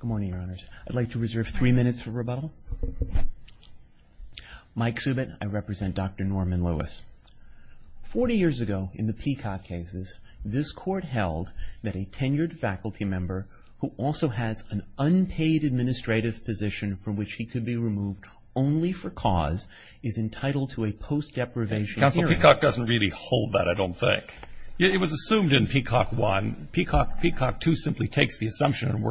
Good morning, your honors. I'd like to reserve three minutes for rebuttal. Mike Subit, I represent Dr. Norman Lewis. 40 years ago, in the Peacock cases, this court held that a tenured faculty member who also has an unpaid administrative position from which he could be removed only for cause is entitled to a post-deprivation hearing. Counsel, Peacock doesn't really hold that, I don't think. It was assumed in Peacock 1. Peacock 2 simply takes the assumption and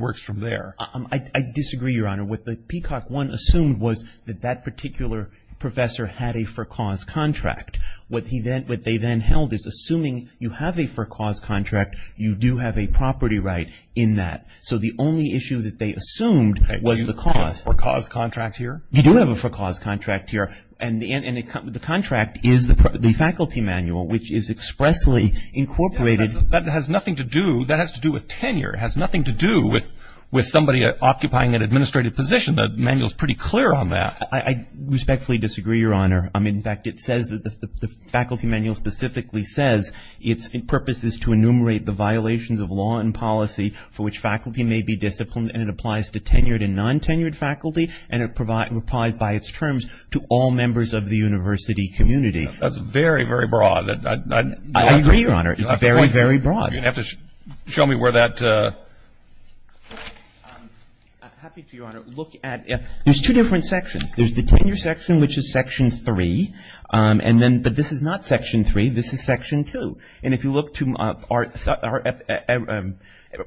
works from there. I disagree, your honor. What the Peacock 1 assumed was that that particular professor had a for-cause contract. What they then held is, assuming you have a for-cause contract, you do have a property right in that. So the only issue that they assumed was the cause. Do you have a for-cause contract here? You do have a for-cause contract here. And the contract is the faculty manual, which is expressly incorporated. That has nothing to do with tenure. It has nothing to do with somebody occupying an administrative position. The manual's pretty clear on that. I respectfully disagree, your honor. In fact, the faculty manual specifically says its purpose is to enumerate the violations of law and policy for which faculty may be disciplined. And it applies to tenured and non-tenured faculty. And it applies by its terms to all members of the university community. That's very, very broad. I agree, your honor. It's very, very broad. You're going to have to show me where that. I'm happy to, your honor. Look at, there's two different sections. There's the tenure section, which is section 3. And then, but this is not section 3. This is section 2. And if you look to our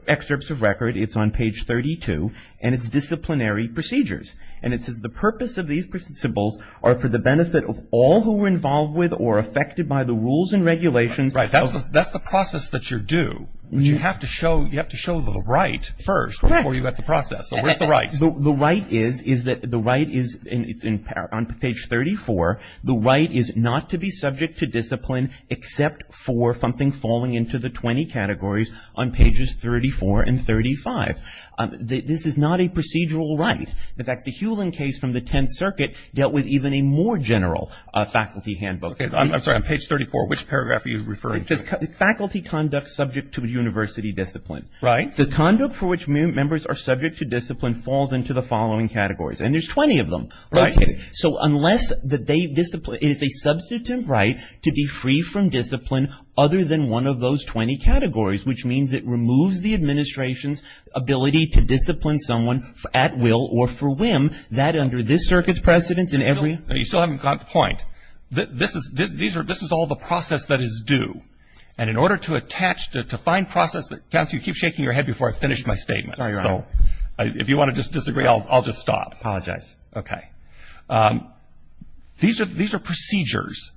excerpts of record, it's on page 32. And it's disciplinary procedures. And it says, the purpose of these principles are for the benefit of all who are involved with or affected by the rules and regulations. That's the process that you're due. You have to show the right first before you got the process. So where's the right? The right is that the right is, and it's on page 34, the right is not to be subject to discipline except for something falling into the 20 categories on pages 34 and 35. This is not a procedural right. In fact, the Hewlin case from the 10th Circuit dealt with even a more general faculty handbook. I'm sorry, on page 34, which paragraph are you referring to? Faculty conduct subject to university discipline. The conduct for which members are subject to discipline falls into the following categories. And there's 20 of them. So unless that they, it is a substantive right to be free from discipline other than one of those 20 categories, which means it removes the administration's ability to discipline someone at will or for whim, that under this circuit's precedence in every. You still haven't got the point. This is all the process that is due. And in order to attach, to find process that counts, you keep shaking your head before I finish my statement. If you want to just disagree, I'll just stop. Apologize. OK. These are procedures.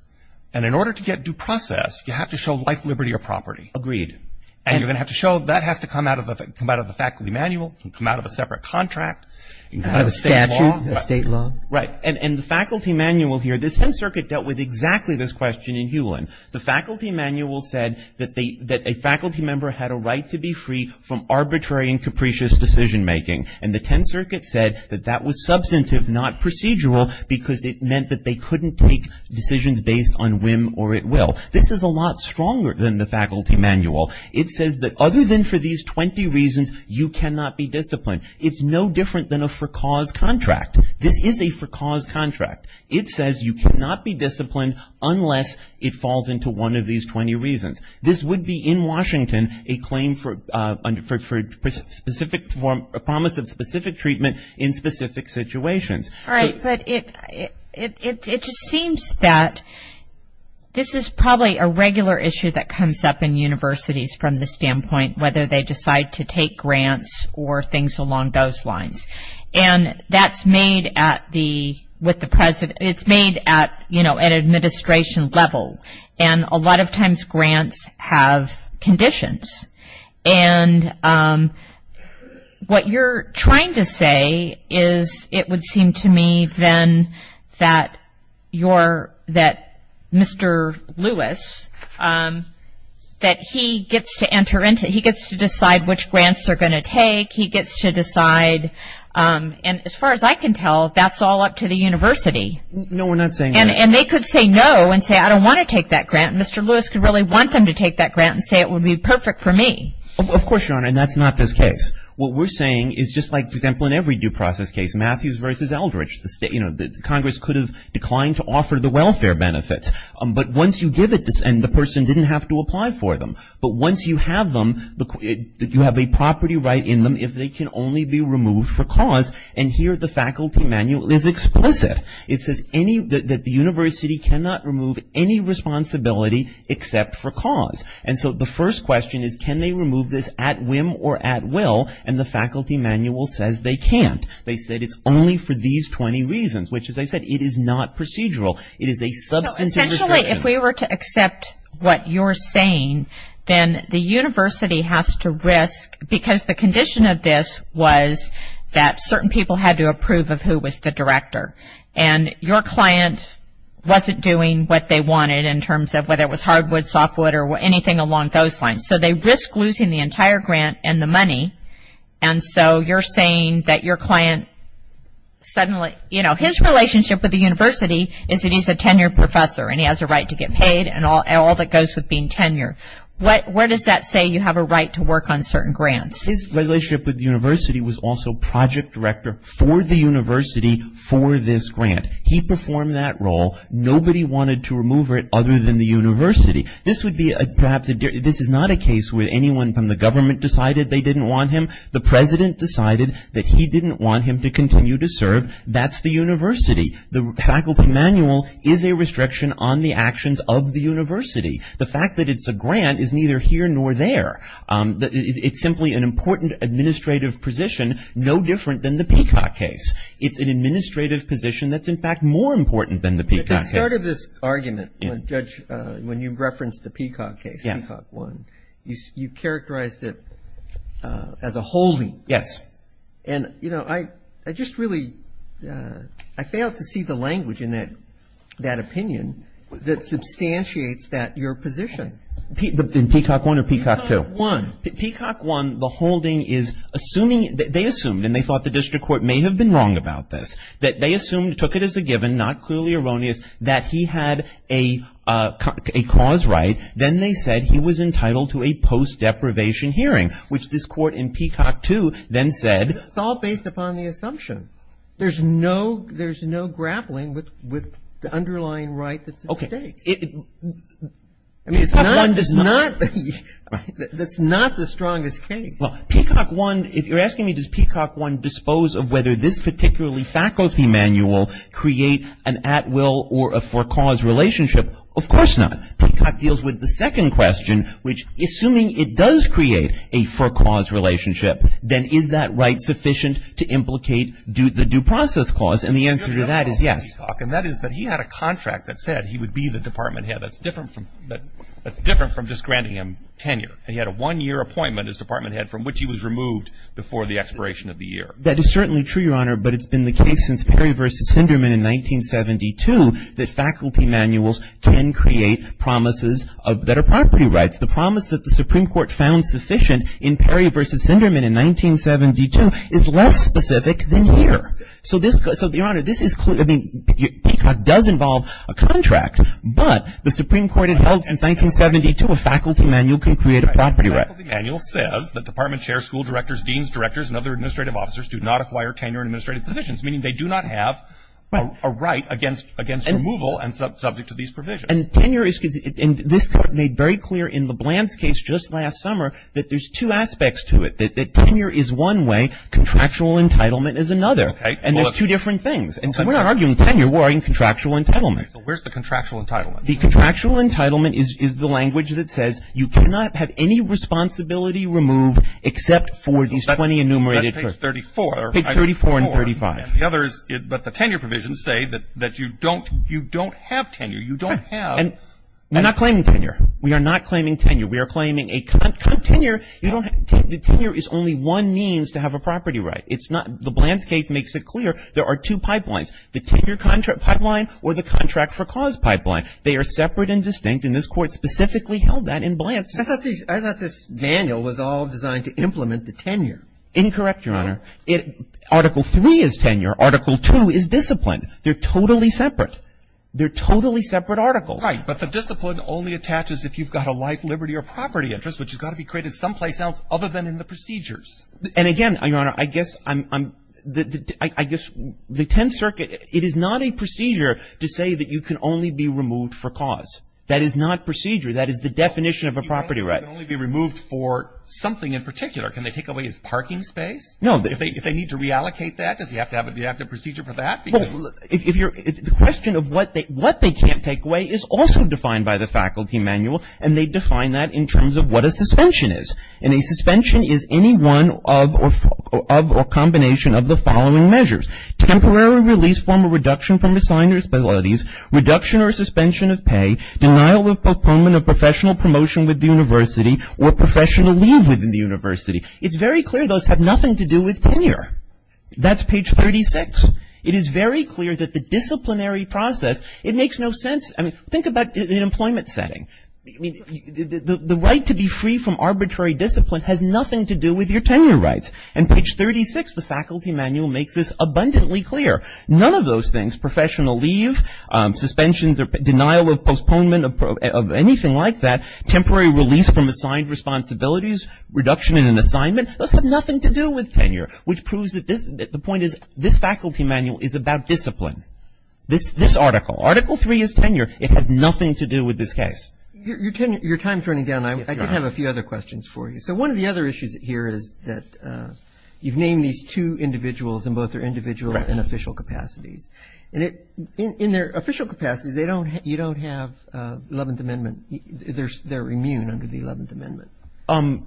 And in order to get due process, you have to show life, liberty, or property. Agreed. And you're going to have to show that has to come out of the faculty manual. It can come out of a separate contract. It can come out of a statute. A state law. Right. And the faculty manual here, the 10th Circuit dealt with exactly this question in Hewlin. The faculty manual said that a faculty member had a right to be free from arbitrary and capricious decision making. And the 10th Circuit said that that was substantive, not procedural, because it meant that they couldn't make decisions based on whim or at will. This is a lot stronger than the faculty manual. It says that other than for these 20 reasons, you cannot be disciplined. It's no different than a for cause contract. This is a for cause contract. It says you cannot be disciplined unless it falls into one of these 20 reasons. This would be, in Washington, a claim for a promise of specific treatment in specific situations. Right, but it just seems that this is probably a regular issue that comes up in universities from the standpoint whether they decide to take grants or things along those lines. And that's made at the administration level. And a lot of times, grants have conditions. And what you're trying to say is, it would seem to me then that Mr. Lewis, that he gets to enter into it. He gets to decide which grants they're going to take. He gets to decide. And as far as I can tell, that's all up to the university. No, we're not saying that. And they could say no and say, I don't want to take that grant. And Mr. Lewis could really want them to take that grant and say it would be perfect for me. Of course, Your Honor, and that's not this case. What we're saying is just like, for example, in every due process case, Matthews versus Eldridge. Congress could have declined to offer the welfare benefits. But once you give it, and the person didn't have to apply for them. But once you have them, you have a property right in them if they can only be removed for cause. And here, the faculty manual is explicit. It says that the university cannot remove any responsibility except for cause. And so the first question is, can they remove this at whim or at will? And the faculty manual says they can't. They said it's only for these 20 reasons. Which as I said, it is not procedural. It is a substantive requirement. So essentially, if we were to accept what you're saying, then the university has to risk, because the condition of this was that certain people had to approve of who was the director. And your client wasn't doing what they wanted in terms of whether it was hardwood, softwood, or anything along those lines. So they risk losing the entire grant and the money. And so you're saying that your client suddenly, you know, his relationship with the university is that he's a tenured professor and he has a right to get paid and all that goes with being tenured. Where does that say you have a right to work on certain grants? His relationship with the university was also project director for the university for this grant. He performed that role. Nobody wanted to remove it other than the university. This would be perhaps, this is not a case where anyone from the government decided they didn't want him. The president decided that he didn't want him to continue to serve. That's the university. The faculty manual is a restriction on the actions of the university. The fact that it's a grant is neither here nor there. It's simply an important administrative position, no different than the Peacock case. It's an administrative position that's, in fact, more important than the Peacock case. At the start of this argument, Judge, when you referenced the Peacock case, Peacock 1, you characterized it as a holding. Yes. And, you know, I just really, I failed to see the language in that opinion that substantiates that, your position. In Peacock 1 or Peacock 2? Peacock 1. Peacock 1, the holding is assuming, they assumed, and they thought the district court may have been wrong about this, that they assumed, took it as a given, not clearly erroneous, that he had a cause right. Then they said he was entitled to a post-deprivation hearing, which this court in Peacock 2 then said. It's all based upon the assumption. There's no grappling with the underlying right that's at stake. Okay. I mean, it's not the strongest case. Well, Peacock 1, if you're asking me does Peacock 1 dispose of whether this particularly faculty manual create an at-will or a for-cause relationship, of course not. Peacock deals with the second question, which assuming it does create a for-cause relationship, then is that right sufficient to implicate the due process clause? And the answer to that is yes. And that is that he had a contract that said he would be the department head. That's different from just granting him tenure. And he had a one-year appointment as department head from which he was removed before the expiration of the year. That is certainly true, Your Honor, but it's been the case since Perry versus Sinderman in 1972 that faculty manuals can create promises that are property rights. The promise that the Supreme Court found sufficient in Perry versus Sinderman in 1972 is less specific than here. So, Your Honor, this is, I mean, Peacock does involve a contract, but the Supreme Court had held since 1972 a faculty manual can create a property right. Faculty manual says that department chairs, school directors, deans, directors, and other administrative officers do not acquire tenure in administrative positions, meaning they do not have a right against removal and subject to these provisions. And tenure is, and this Court made very clear in LeBlanc's case just last summer that there's two aspects to it, that tenure is one way, contractual entitlement is another. Okay. And there's two different things. And we're not arguing tenure, we're arguing contractual entitlement. So where's the contractual entitlement? The contractual entitlement is the language that says you cannot have any responsibility removed except for these 20 enumerated. That's page 34. Page 34 and 35. And the other is, but the tenure provisions say that you don't have tenure. You don't have. And we're not claiming tenure. We are not claiming tenure. We are claiming a, tenure, you don't have, the tenure is only one means to have a property right. It's not, LeBlanc's case makes it clear there are two pipelines. The tenure pipeline or the contract for cause pipeline. They are separate and distinct, and this Court specifically held that in LeBlanc's. I thought this manual was all designed to implement the tenure. Incorrect, Your Honor. Article 3 is tenure. Article 2 is discipline. They're totally separate. They're totally separate articles. Right. But the discipline only attaches if you've got a life, liberty, or property interest, which has got to be created someplace else other than in the procedures. And again, Your Honor, I guess I'm, I guess the Tenth Circuit, it is not a procedure to say that you can only be removed for cause. That is not procedure. That is the definition of a property right. You can only be removed for something in particular. Can they take away his parking space? No. If they need to reallocate that, does he have to have a, do you have to have a procedure for that? Well, if you're, the question of what they, what they can't take away is also defined by the faculty manual, and they define that in terms of what a suspension is. And a suspension is any one of or combination of the following measures. Temporary release from a reduction from assigners, by all of these, reduction or suspension of pay, denial of proponement of professional promotion with the university, or professional leave within the university. It's very clear those have nothing to do with tenure. That's page 36. It is very clear that the disciplinary process, it makes no sense. I mean, think about an employment setting. I mean, the right to be free from arbitrary discipline has nothing to do with your tenure rights. And page 36, the faculty manual makes this abundantly clear. None of those things, professional leave, suspensions or denial of postponement of anything like that, temporary release from assigned responsibilities, reduction in an assignment, those have nothing to do with tenure, which proves that this, the point is, this faculty manual is about discipline. This, this article, article three is tenure. It has nothing to do with this case. Your, your tenure, your time's running down. I, I do have a few other questions for you. So, one of the other issues here is that you've named these two individuals, and both are individual and official capacities. And it, in, in their official capacities, they don't, you don't have Eleventh Amendment. They're, they're immune under the Eleventh Amendment.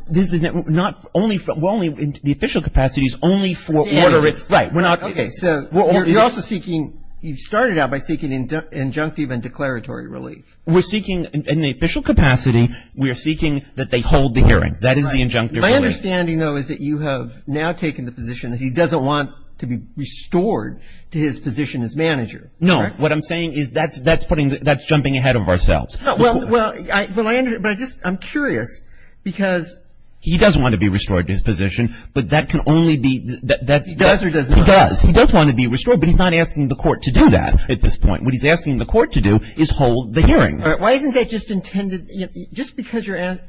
This is not, only for, we're only, the official capacity is only for order of, right, we're not. Okay, so, you're also seeking, you started out by seeking injunctive and declaratory relief. We're seeking, in the official capacity, we're seeking that they hold the hearing. That is the injunctive relief. My understanding, though, is that you have now taken the position that he doesn't want to be restored to his position as manager. No, what I'm saying is that's, that's putting, that's jumping ahead of ourselves. Well, well, I, well, I under, but I just, I'm curious, because. He does want to be restored to his position, but that can only be, that, that. He does or does not? He does, he does want to be restored, but he's not asking the court to do that at this point. What he's asking the court to do is hold the hearing. All right, why isn't that just intended, you know, just because you're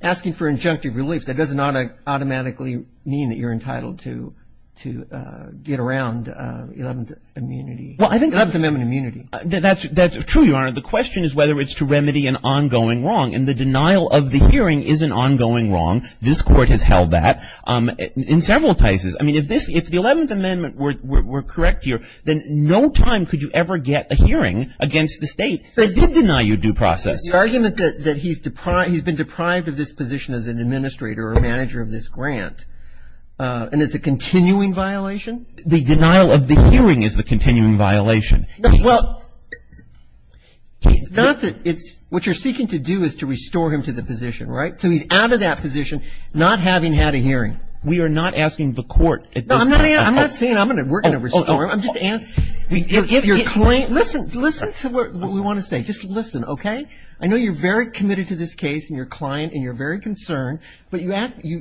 asking for injunctive relief, that does not automatically mean that you're entitled to, to get around Eleventh Immunity. Well, I think. Eleventh Amendment immunity. That's, that's true, Your Honor. The question is whether it's to remedy an ongoing wrong. And the denial of the hearing is an ongoing wrong. This Court has held that in several cases. I mean, if this, if the Eleventh Amendment were, were, were correct here, then no time could you ever get a hearing against the State that did deny you due process. The argument that, that he's deprived, he's been deprived of this position as an administrator or a manager of this grant, and it's a continuing violation? The denial of the hearing is the continuing violation. Well, it's not that it's, what you're seeking to do is to restore him to the position, right? So he's out of that position, not having had a hearing. We are not asking the court at this point. No, I'm not, I'm not saying I'm going to, we're going to restore him. I'm just asking, to give your claim. Listen, listen to what we want to say. Just listen, okay? I know you're very committed to this case and your client and you're very concerned. But you,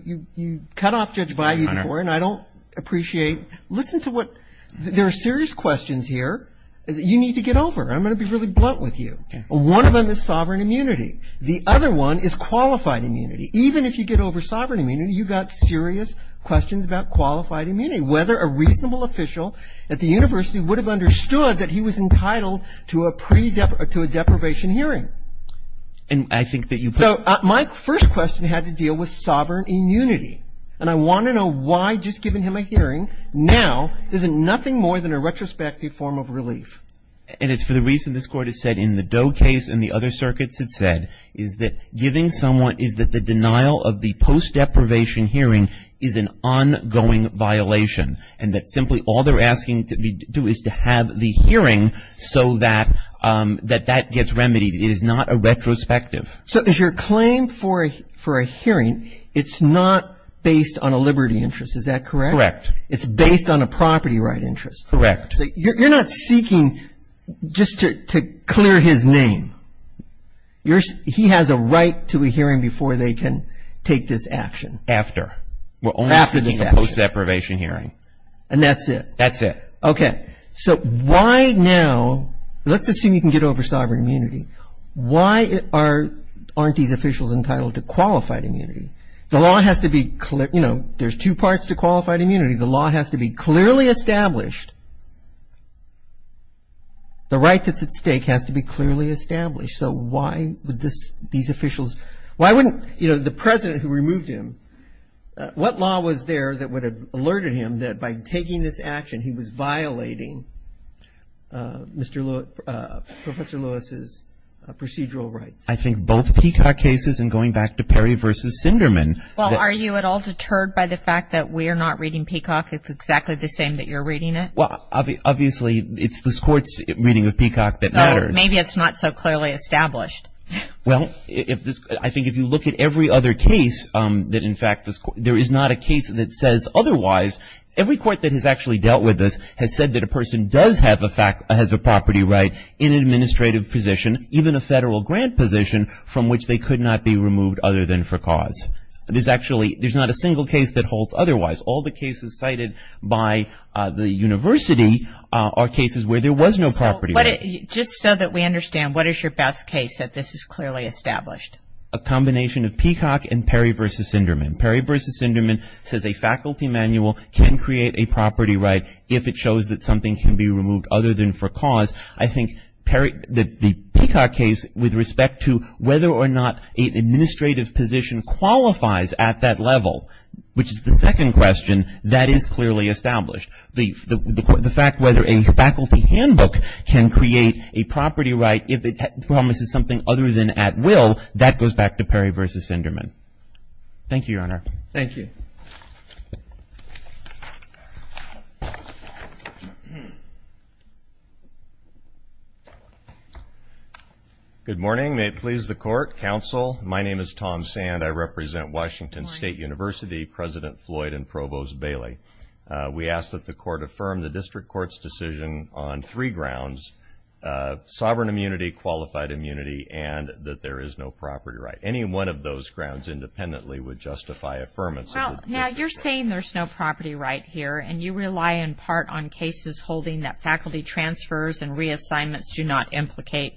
you, you cut off Judge Bayou before and I don't appreciate. Listen to what, there are serious questions here. You need to get over. I'm going to be really blunt with you. One of them is sovereign immunity. The other one is qualified immunity. Even if you get over sovereign immunity, you've got serious questions about qualified immunity. Whether a reasonable official at the university would have understood that he was entitled to a pre-dep, to a deprivation hearing. And I think that you've. So, my first question had to deal with sovereign immunity. And I want to know why just giving him a hearing, now, isn't nothing more than a retrospective form of relief. And it's for the reason this court has said in the Doe case and the other circuits had said, is that giving someone, is that the denial of the post-deprivation hearing is an ongoing violation. And that simply all they're asking to be, to do is to have the hearing so that, that that gets remedied. It is not a retrospective. So, is your claim for a, for a hearing, it's not based on a liberty interest, is that correct? Correct. It's based on a property right interest. Correct. So, you're, you're not seeking just to, to clear his name. You're, he has a right to a hearing before they can take this action. After. We're only seeking a post-deprivation hearing. And that's it. That's it. Okay. So, why now, let's assume you can get over sovereign immunity. Why are, aren't these officials entitled to qualified immunity? The law has to be clear, you know, there's two parts to qualified immunity. The law has to be clearly established. The right that's at stake has to be clearly established. So, why would this, these officials, why wouldn't, you know, the president who removed him, what law was there that would have alerted him that by taking this action, he was violating Mr. Lewis, Professor Lewis's procedural rights? I think both Peacock cases and going back to Perry versus Sinderman. Well, are you at all deterred by the fact that we're not reading Peacock if it's exactly the same that you're reading it? Well, obviously, it's this court's reading of Peacock that matters. Maybe it's not so clearly established. Well, if this, I think if you look at every other case that in fact this, there is not a case that says otherwise. Every court that has actually dealt with this has said that a person does have a fact, has a property right in an administrative position, even a federal grant position from which they could not be removed other than for cause. There's actually, there's not a single case that holds otherwise. All the cases cited by the university are cases where there was no property right. Just so that we understand, what is your best case that this is clearly established? A combination of Peacock and Perry versus Sinderman. Perry versus Sinderman says a faculty manual can create a property right if it shows that something can be removed other than for cause. I think Perry, the Peacock case with respect to whether or not an administrative position qualifies at that level, which is the second question, that is clearly established. The fact whether a faculty handbook can create a property right if it promises something other than at will, that goes back to Perry versus Sinderman. Thank you, Your Honor. Thank you. Good morning. May it please the court, counsel, my name is Tom Sand. I represent Washington State University, President Floyd and Provost Bailey. We ask that the court affirm the district court's decision on three grounds, sovereign immunity, qualified immunity, and that there is no property right. Any one of those grounds independently would justify affirmance of the district court. Now, you're saying there's no property right here, and you rely in part on cases holding that faculty transfers and reassignments do not implicate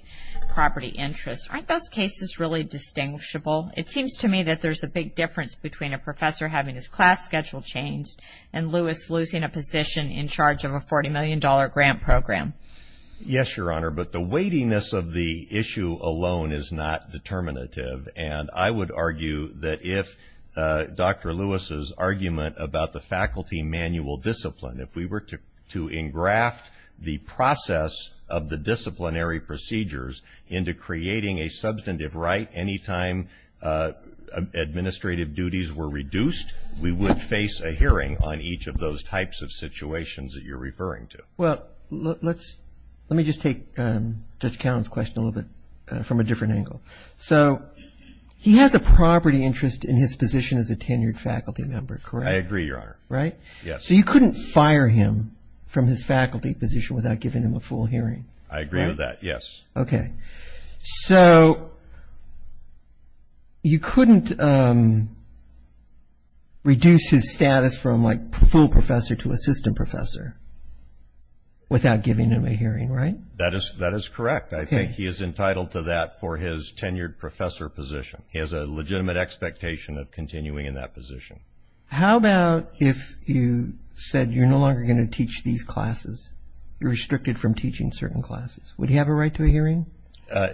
property interests. Aren't those cases really distinguishable? It seems to me that there's a big difference between a professor having his class schedule changed and Lewis losing a position in charge of a $40 million grant program. Yes, Your Honor, but the weightiness of the issue alone is not determinative, and I would argue that if Dr. Lewis's argument about the faculty manual discipline, if we were to engraft the process of the disciplinary procedures into creating a substantive right any time administrative duties were reduced, we would face a hearing on each of those types of situations that you're referring to. Well, let's, let me just take Judge Cowen's question a little bit from a different angle. So, he has a property interest in his position as a tenured faculty member, correct? I agree, Your Honor. Right? Yes. So, you couldn't fire him from his faculty position without giving him a full hearing? I agree with that, yes. Okay. So, you couldn't reduce his status from like full professor to assistant professor without giving him a hearing, right? That is, that is correct. I think he is entitled to that for his tenured professor position. He has a legitimate expectation of continuing in that position. How about if you said you're no longer going to teach these classes? You're restricted from teaching certain classes. Would he have a right to a hearing?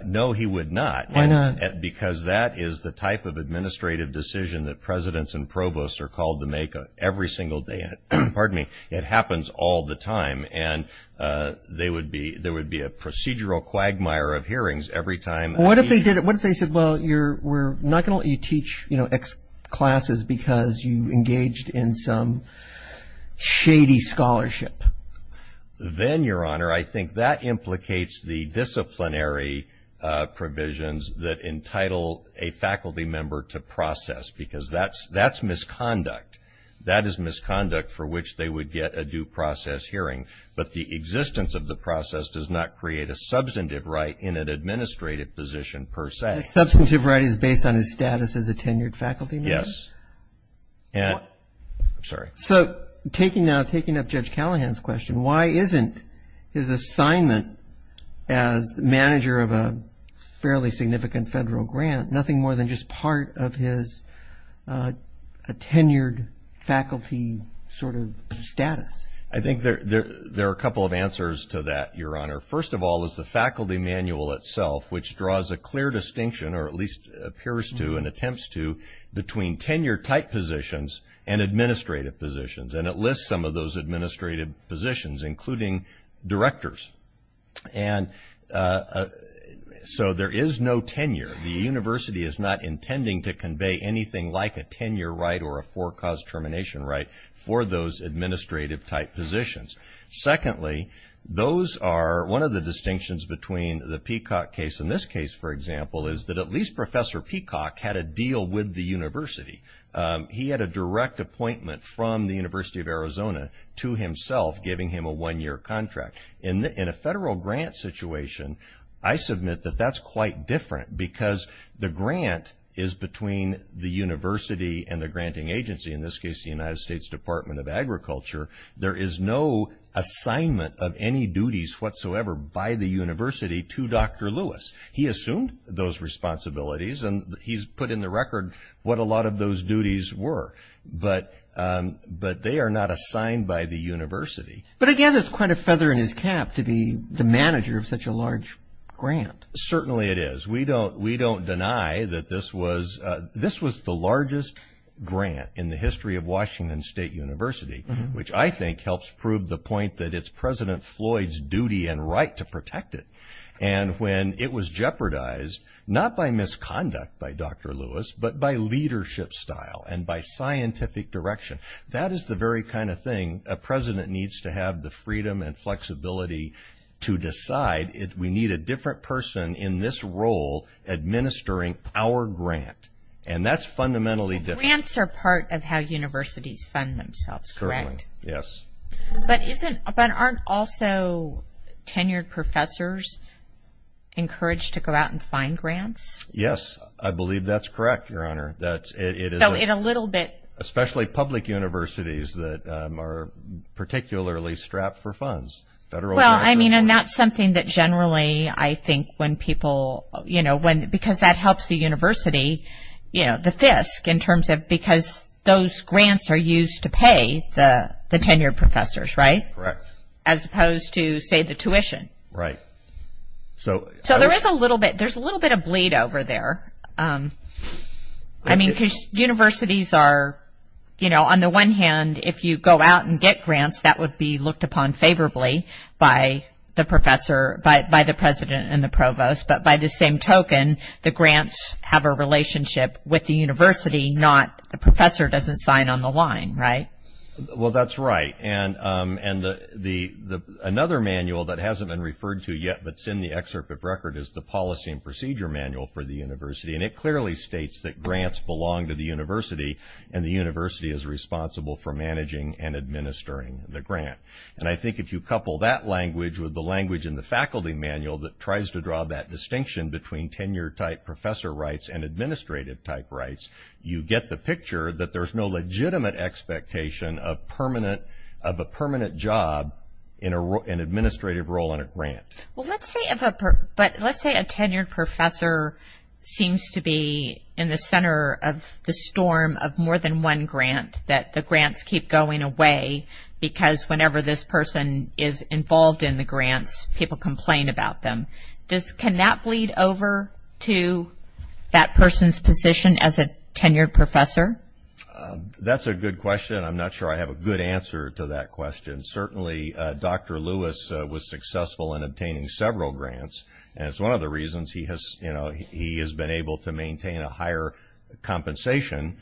No, he would not. Why not? Because that is the type of administrative decision that presidents and provosts are called to make every single day. Pardon me. It happens all the time, and there would be a procedural quagmire of hearings every time. What if they said, well, we're not going to let you teach X classes because you engaged in some shady scholarship? Then, Your Honor, I think that implicates the disciplinary provisions that entitle a faculty member to process, because that's misconduct. That is misconduct for which they would get a due process hearing. But the existence of the process does not create a substantive right in an administrative position per se. A substantive right is based on his status as a tenured faculty member? Yes. And, I'm sorry. So, taking now, taking up Judge Callahan's question, why isn't his assignment as manager of a fairly significant federal grant nothing more than just part of his tenured faculty sort of status? I think there are a couple of answers to that, Your Honor. First of all is the faculty manual itself, which draws a clear distinction, or at least appears to and attempts to, between tenure-type positions and administrative positions. And it lists some of those administrative positions, including directors. And so, there is no tenure. The university is not intending to convey anything like a tenure right or a forecast termination right for those administrative-type positions. Secondly, those are, one of the distinctions between the Peacock case and this case, for example, is that at least Professor Peacock had a deal with the university. He had a direct appointment from the University of Arizona to himself, giving him a one-year contract. In a federal grant situation, I submit that that's quite different, because the grant is between the university and the granting agency. In this case, the United States Department of Agriculture. There is no assignment of any duties whatsoever by the university to Dr. Lewis. He assumed those responsibilities, and he's put in the record what a lot of those duties were. But they are not assigned by the university. But again, that's quite a feather in his cap to be the manager of such a large grant. Certainly it is. We don't deny that this was the largest grant in the history of Washington State University, which I think helps prove the point that it's President Floyd's duty and right to protect it. And when it was jeopardized, not by misconduct by Dr. Lewis, but by leadership style and by scientific direction, that is the very kind of thing a president needs to have the freedom and flexibility to decide. We need a different person in this role administering our grant. And that's fundamentally different. Grants are part of how universities fund themselves, correct? Yes. But aren't also tenured professors encouraged to go out and find grants? Yes, I believe that's correct, Your Honor. So in a little bit. Especially public universities that are particularly strapped for funds. Well, I mean, and that's something that generally I think when people, you know, because that helps the university, you know, the FISC in terms of because those grants are used to pay the tenured professors, right? Correct. As opposed to, say, the tuition. Right. So there is a little bit, there's a little bit of bleed over there. I mean, because universities are, you know, on the one hand, if you go out and get grants, that would be looked upon favorably by the professor, by the president and the provost. But by the same token, the grants have a relationship with the university, not the professor doesn't sign on the line, right? Well, that's right. And another manual that hasn't been referred to yet, but it's in the excerpt of record, is the Policy and Procedure Manual for the university. And it clearly states that grants belong to the university, and the university is responsible for managing and administering the grant. And I think if you couple that language with the language in the faculty manual that tries to draw that distinction between tenured type professor rights and administrative type rights, you get the picture that there's no legitimate expectation of permanent, of a permanent job in an administrative role in a grant. Well, let's say, but let's say a tenured professor seems to be in the center of the storm of more than one grant, that the grants keep going away, because whenever this person is involved in the grants, people complain about them. Does, can that bleed over to that person's position as a tenured professor? That's a good question. I'm not sure I have a good answer to that question. Certainly, Dr. Lewis was successful in obtaining several grants, and it's one of the reasons he has, you know, he has been able to maintain a higher compensation,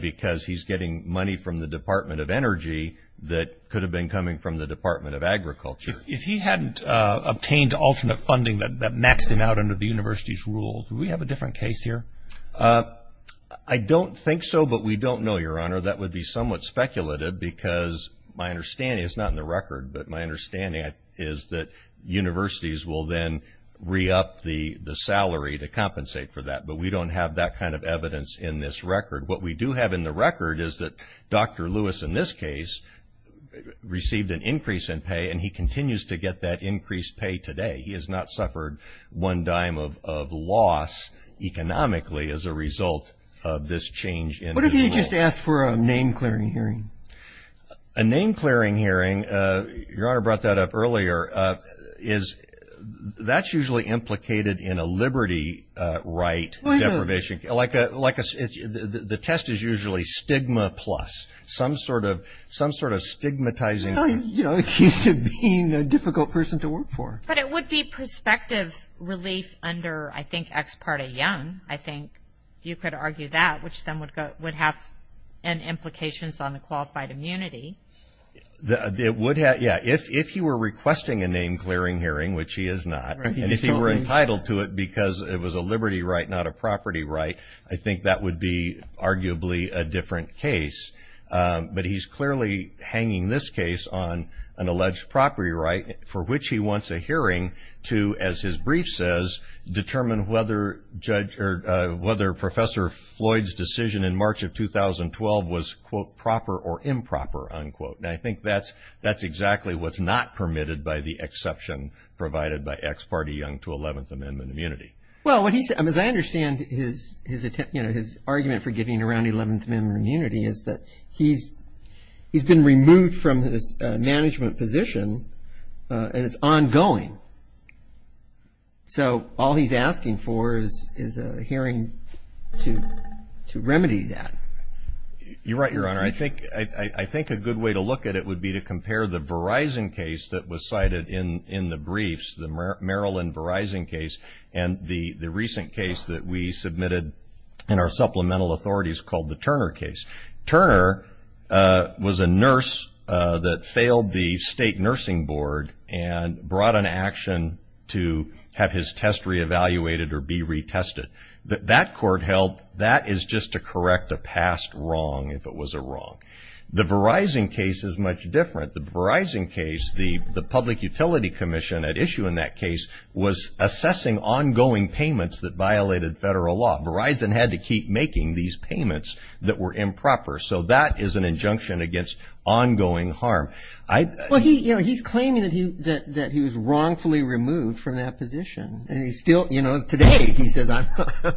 because he's getting money from the Department of Energy that could have been coming from the Department of Agriculture. If he hadn't obtained alternate funding that maxed him out under the university's rules, would we have a different case here? I don't think so, but we don't know, Your Honor. That would be somewhat speculative, because my understanding, it's not in the record, but my understanding is that universities will then re-up the salary to compensate for that, but we don't have that kind of evidence in this record. What we do have in the record is that Dr. Lewis, in this case, received an increase in pay, and he continues to get that increased pay today. He has not suffered one dime of loss economically as a result of this change in his role. What if he had just asked for a name-clearing hearing? A name-clearing hearing, Your Honor brought that up earlier, is, that's usually implicated in a liberty right deprivation, like a, the test is usually stigma plus, some sort of stigmatizing, you know, accused of being a difficult person to work for. But it would be prospective relief under, I think, Ex parte Young, I think you could argue that, which then would have implications on the qualified immunity. It would have, yeah. If he were requesting a name-clearing hearing, which he is not, and if he were entitled to it because it was a liberty right, not a property right, I think that would be arguably a different case. But he's clearly hanging this case on an alleged property right, for which he wants a hearing to, as his brief says, determine whether Judge, or whether Professor Floyd's decision in March of 2012 was, quote, proper or improper, unquote. And I think that's, that's exactly what's not permitted by the exception provided by Ex parte Young to 11th Amendment immunity. Well, what he's, as I understand his, you know, his argument for getting around 11th Amendment immunity is that he's, he's been removed from his management position, and it's ongoing. So, all he's asking for is, is a hearing to, to remedy that. You're right, Your Honor. I think, I think a good way to look at it would be to compare the Verizon case that was cited in, in the briefs, the Maryland Verizon case, and the, the recent case that we submitted in our supplemental authorities called the Turner case. Turner was a nurse that failed the state nursing board and brought an action to have his test reevaluated or be retested. That, that court held, that is just to correct a past wrong, if it was a wrong. The Verizon case is much different. The Verizon case, the, the public utility commission at issue in that case was assessing ongoing payments that violated federal law. Verizon had to keep making these payments that were improper. So, that is an injunction against ongoing harm. I. Well, he, you know, he's claiming that he, that, that he was wrongfully removed from that position. And he's still, you know, today, he says, I'm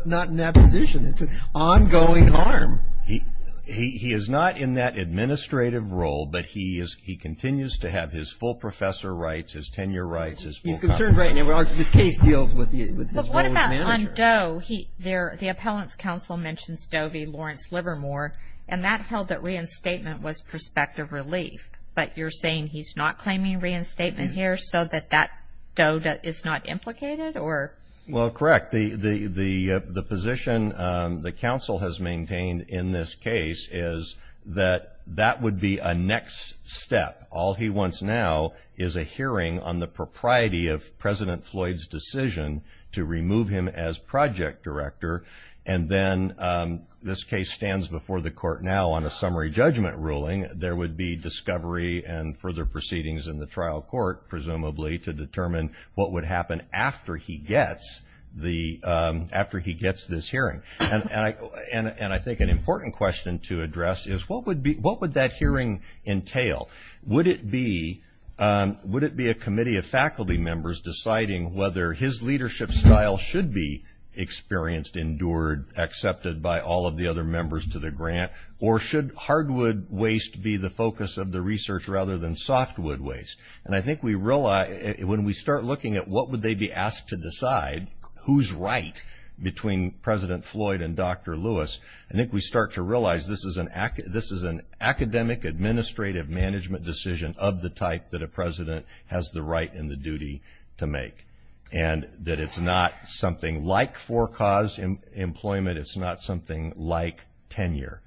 not in that position. It's an ongoing harm. He, he, he is not in that administrative role, but he is, he continues to have his full professor rights, his tenure rights, his full. He's concerned right now, well, this case deals with the, with his role as manager. On Doe, he, there, the appellant's counsel mentions Doe v. Lawrence Livermore, and that held that reinstatement was prospective relief. But you're saying he's not claiming reinstatement here, so that that Doe is not implicated, or? Well, correct. The, the, the, the position the counsel has maintained in this case is that that would be a next step. All he wants now is a hearing on the propriety of President Floyd's decision to remove him as project director. And then, this case stands before the court now on a summary judgment ruling. There would be discovery and further proceedings in the trial court, presumably, to determine what would happen after he gets the, after he gets this hearing. And, and I, and, and I think an important question to address is, what would be, what would that hearing entail? Would it be, would it be a committee of faculty members deciding whether his leadership style should be experienced, endured, accepted by all of the other members to the grant? Or should hardwood waste be the focus of the research rather than softwood waste? And I think we realize, when we start looking at what would they be asked to decide, who's right between President Floyd and Dr. Lewis, I think we start to realize this is an, this is an academic administrative management decision of the type that a president has the right and the duty to make. And that it's not something like for-cause employment. It's not something like tenure.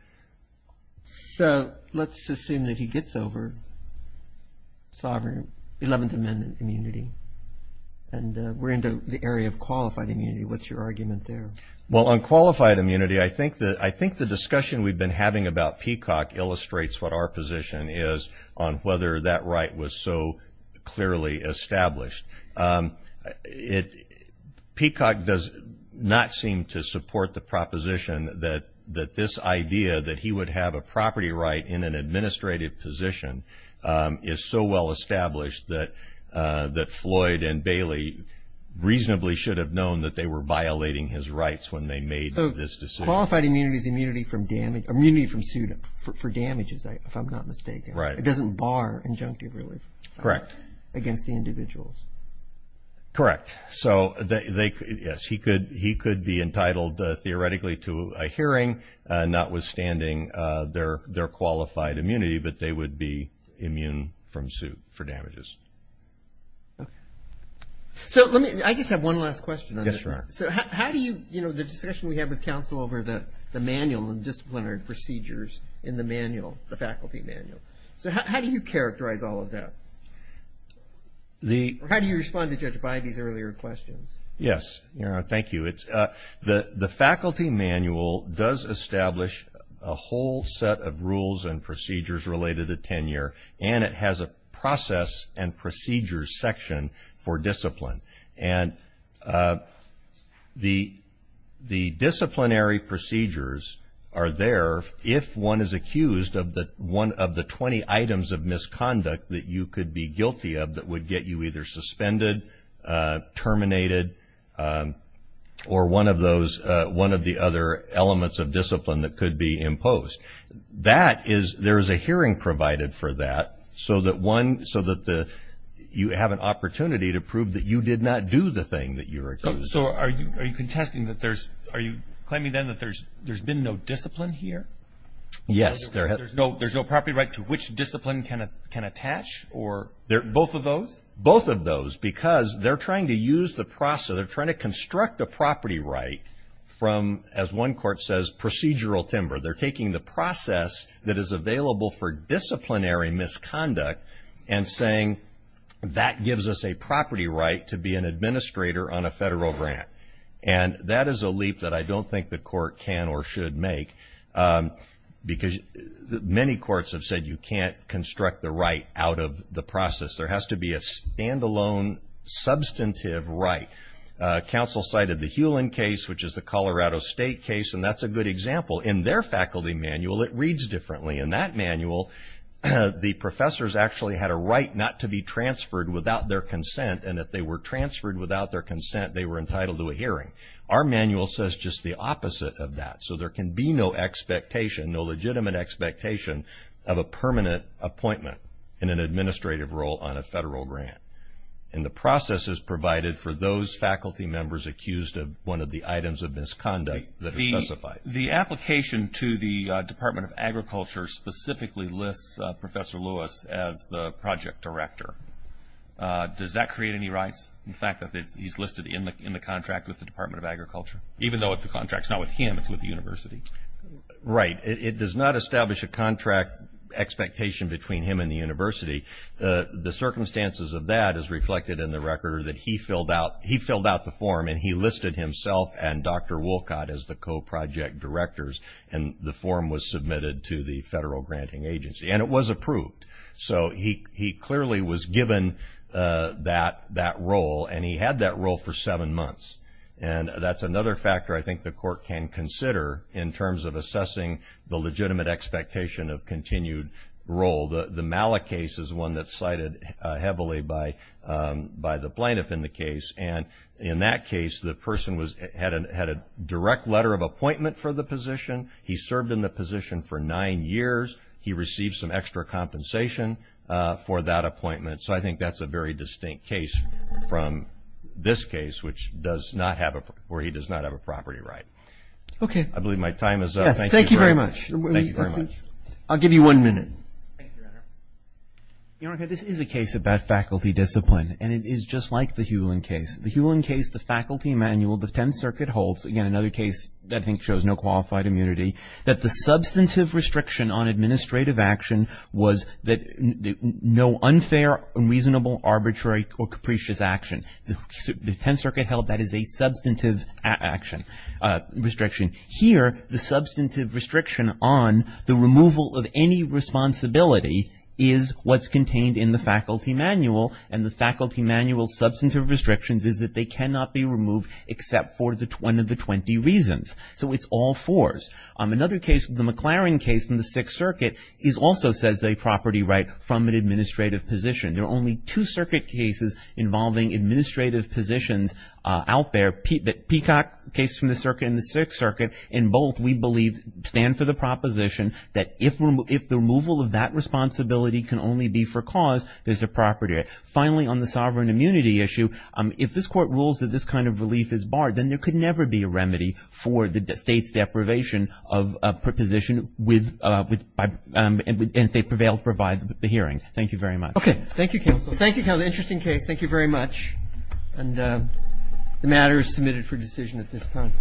So, let's assume that he gets over sovereign 11th Amendment immunity. And we're into the area of qualified immunity. What's your argument there? Well, on qualified immunity, I think that, I think the discussion we've been having about Peacock illustrates what our position is on whether that right was so clearly established. It, Peacock does not seem to support the proposition that, that this idea that he would have a property right in an administrative position is so well established that, that Floyd and Bailey reasonably should have known that they were violating his rights when they made this decision. Qualified immunity is immunity from damage, immunity from suit for damages, if I'm not mistaken. Right. It doesn't bar injunctive relief. Correct. Against the individuals. Correct. So, they, they, yes, he could, he could be entitled theoretically to a hearing notwithstanding their, their qualified immunity. But they would be immune from suit for damages. Okay. So, let me, I just have one last question. Yes, sir. So, how, how do you, you know, the discussion we have with counsel over the, the manual and disciplinary procedures in the manual, the faculty manual. So, how, how do you characterize all of that? The. How do you respond to Judge Bidey's earlier questions? Yes. Thank you. It's, the, the faculty manual does establish a whole set of rules and procedures related to tenure, and it has a process and procedures section for discipline. And the, the disciplinary procedures are there if one is accused of the, one of the 20 items of misconduct that you could be guilty of that would get you either suspended, terminated, or one of those, one of the other elements of discipline that could be imposed. That is, there is a hearing provided for that. So, that one, so that the, you have an opportunity to prove that you did not do the thing that you were accused of. So, are you, are you contesting that there's, are you claiming then that there's, there's been no discipline here? Yes. There, there's no, there's no property right to which discipline can, can attach or. There. Both of those? Both of those. Because they're trying to use the process, they're trying to construct a property right from, as one court says, procedural timber. They're taking the process that is available for disciplinary misconduct and saying, that gives us a property right to be an administrator on a federal grant. And that is a leap that I don't think the court can or should make. Because many courts have said you can't construct the right out of the process. There has to be a standalone substantive right. Council cited the Hewlin case, which is the Colorado State case, and that's a good example. In their faculty manual, it reads differently. In that manual, the professors actually had a right not to be transferred without their consent. And if they were transferred without their consent, they were entitled to a hearing. Our manual says just the opposite of that. So, there can be no expectation, no legitimate expectation of a permanent appointment in an administrative role on a federal grant. And the process is provided for those faculty members accused of one of the items of misconduct that are specified. The application to the Department of Agriculture specifically lists Professor Lewis as the project director. Does that create any rights? In fact, he's listed in the contract with the Department of Agriculture. Even though the contract's not with him, it's with the university. Right. It does not establish a contract expectation between him and the university. The circumstances of that is reflected in the record that he filled out the form and he listed himself and Dr. Wolcott as the co-project directors. And the form was submitted to the federal granting agency. And it was approved. So, he clearly was given that role. And he had that role for seven months. And that's another factor I think the court can consider in terms of assessing the legitimate expectation of continued role. The Malik case is one that's cited heavily by the plaintiff in the case. And in that case, the person had a direct letter of appointment for the position. He served in the position for nine years. He received some extra compensation for that appointment. So, I think that's a very distinct case from this case where he does not have a property right. Okay. I believe my time is up. Yes. Thank you very much. Thank you very much. I'll give you one minute. Thank you. Your Honor, this is a case about faculty discipline. And it is just like the Hulin case. The Hulin case, the faculty manual, the Tenth Circuit holds. Again, another case that I think shows no qualified immunity. That the substantive restriction on administrative action was that no unfair, unreasonable, arbitrary, or capricious action. The Tenth Circuit held that is a substantive action, restriction. Here, the substantive restriction on the removal of any responsibility is what's contained in the faculty manual. And the faculty manual's substantive restrictions is that they cannot be removed except for one of the 20 reasons. So, it's all fours. Another case, the McLaren case from the Sixth Circuit, is also says they property right from an administrative position. There are only two circuit cases involving administrative positions out there. The Peacock case from the Sixth Circuit and both, we believe, stand for the proposition that if the removal of that responsibility can only be for cause, there's a property right. Finally, on the sovereign immunity issue, if this court rules that this kind of relief is barred, then there could never be a remedy for the state's deprivation of a position with, and if they prevail to provide the hearing. Thank you very much. Okay. Thank you, counsel. Thank you, counsel. Interesting case. Thank you very much. And the matter is submitted for decision at this time.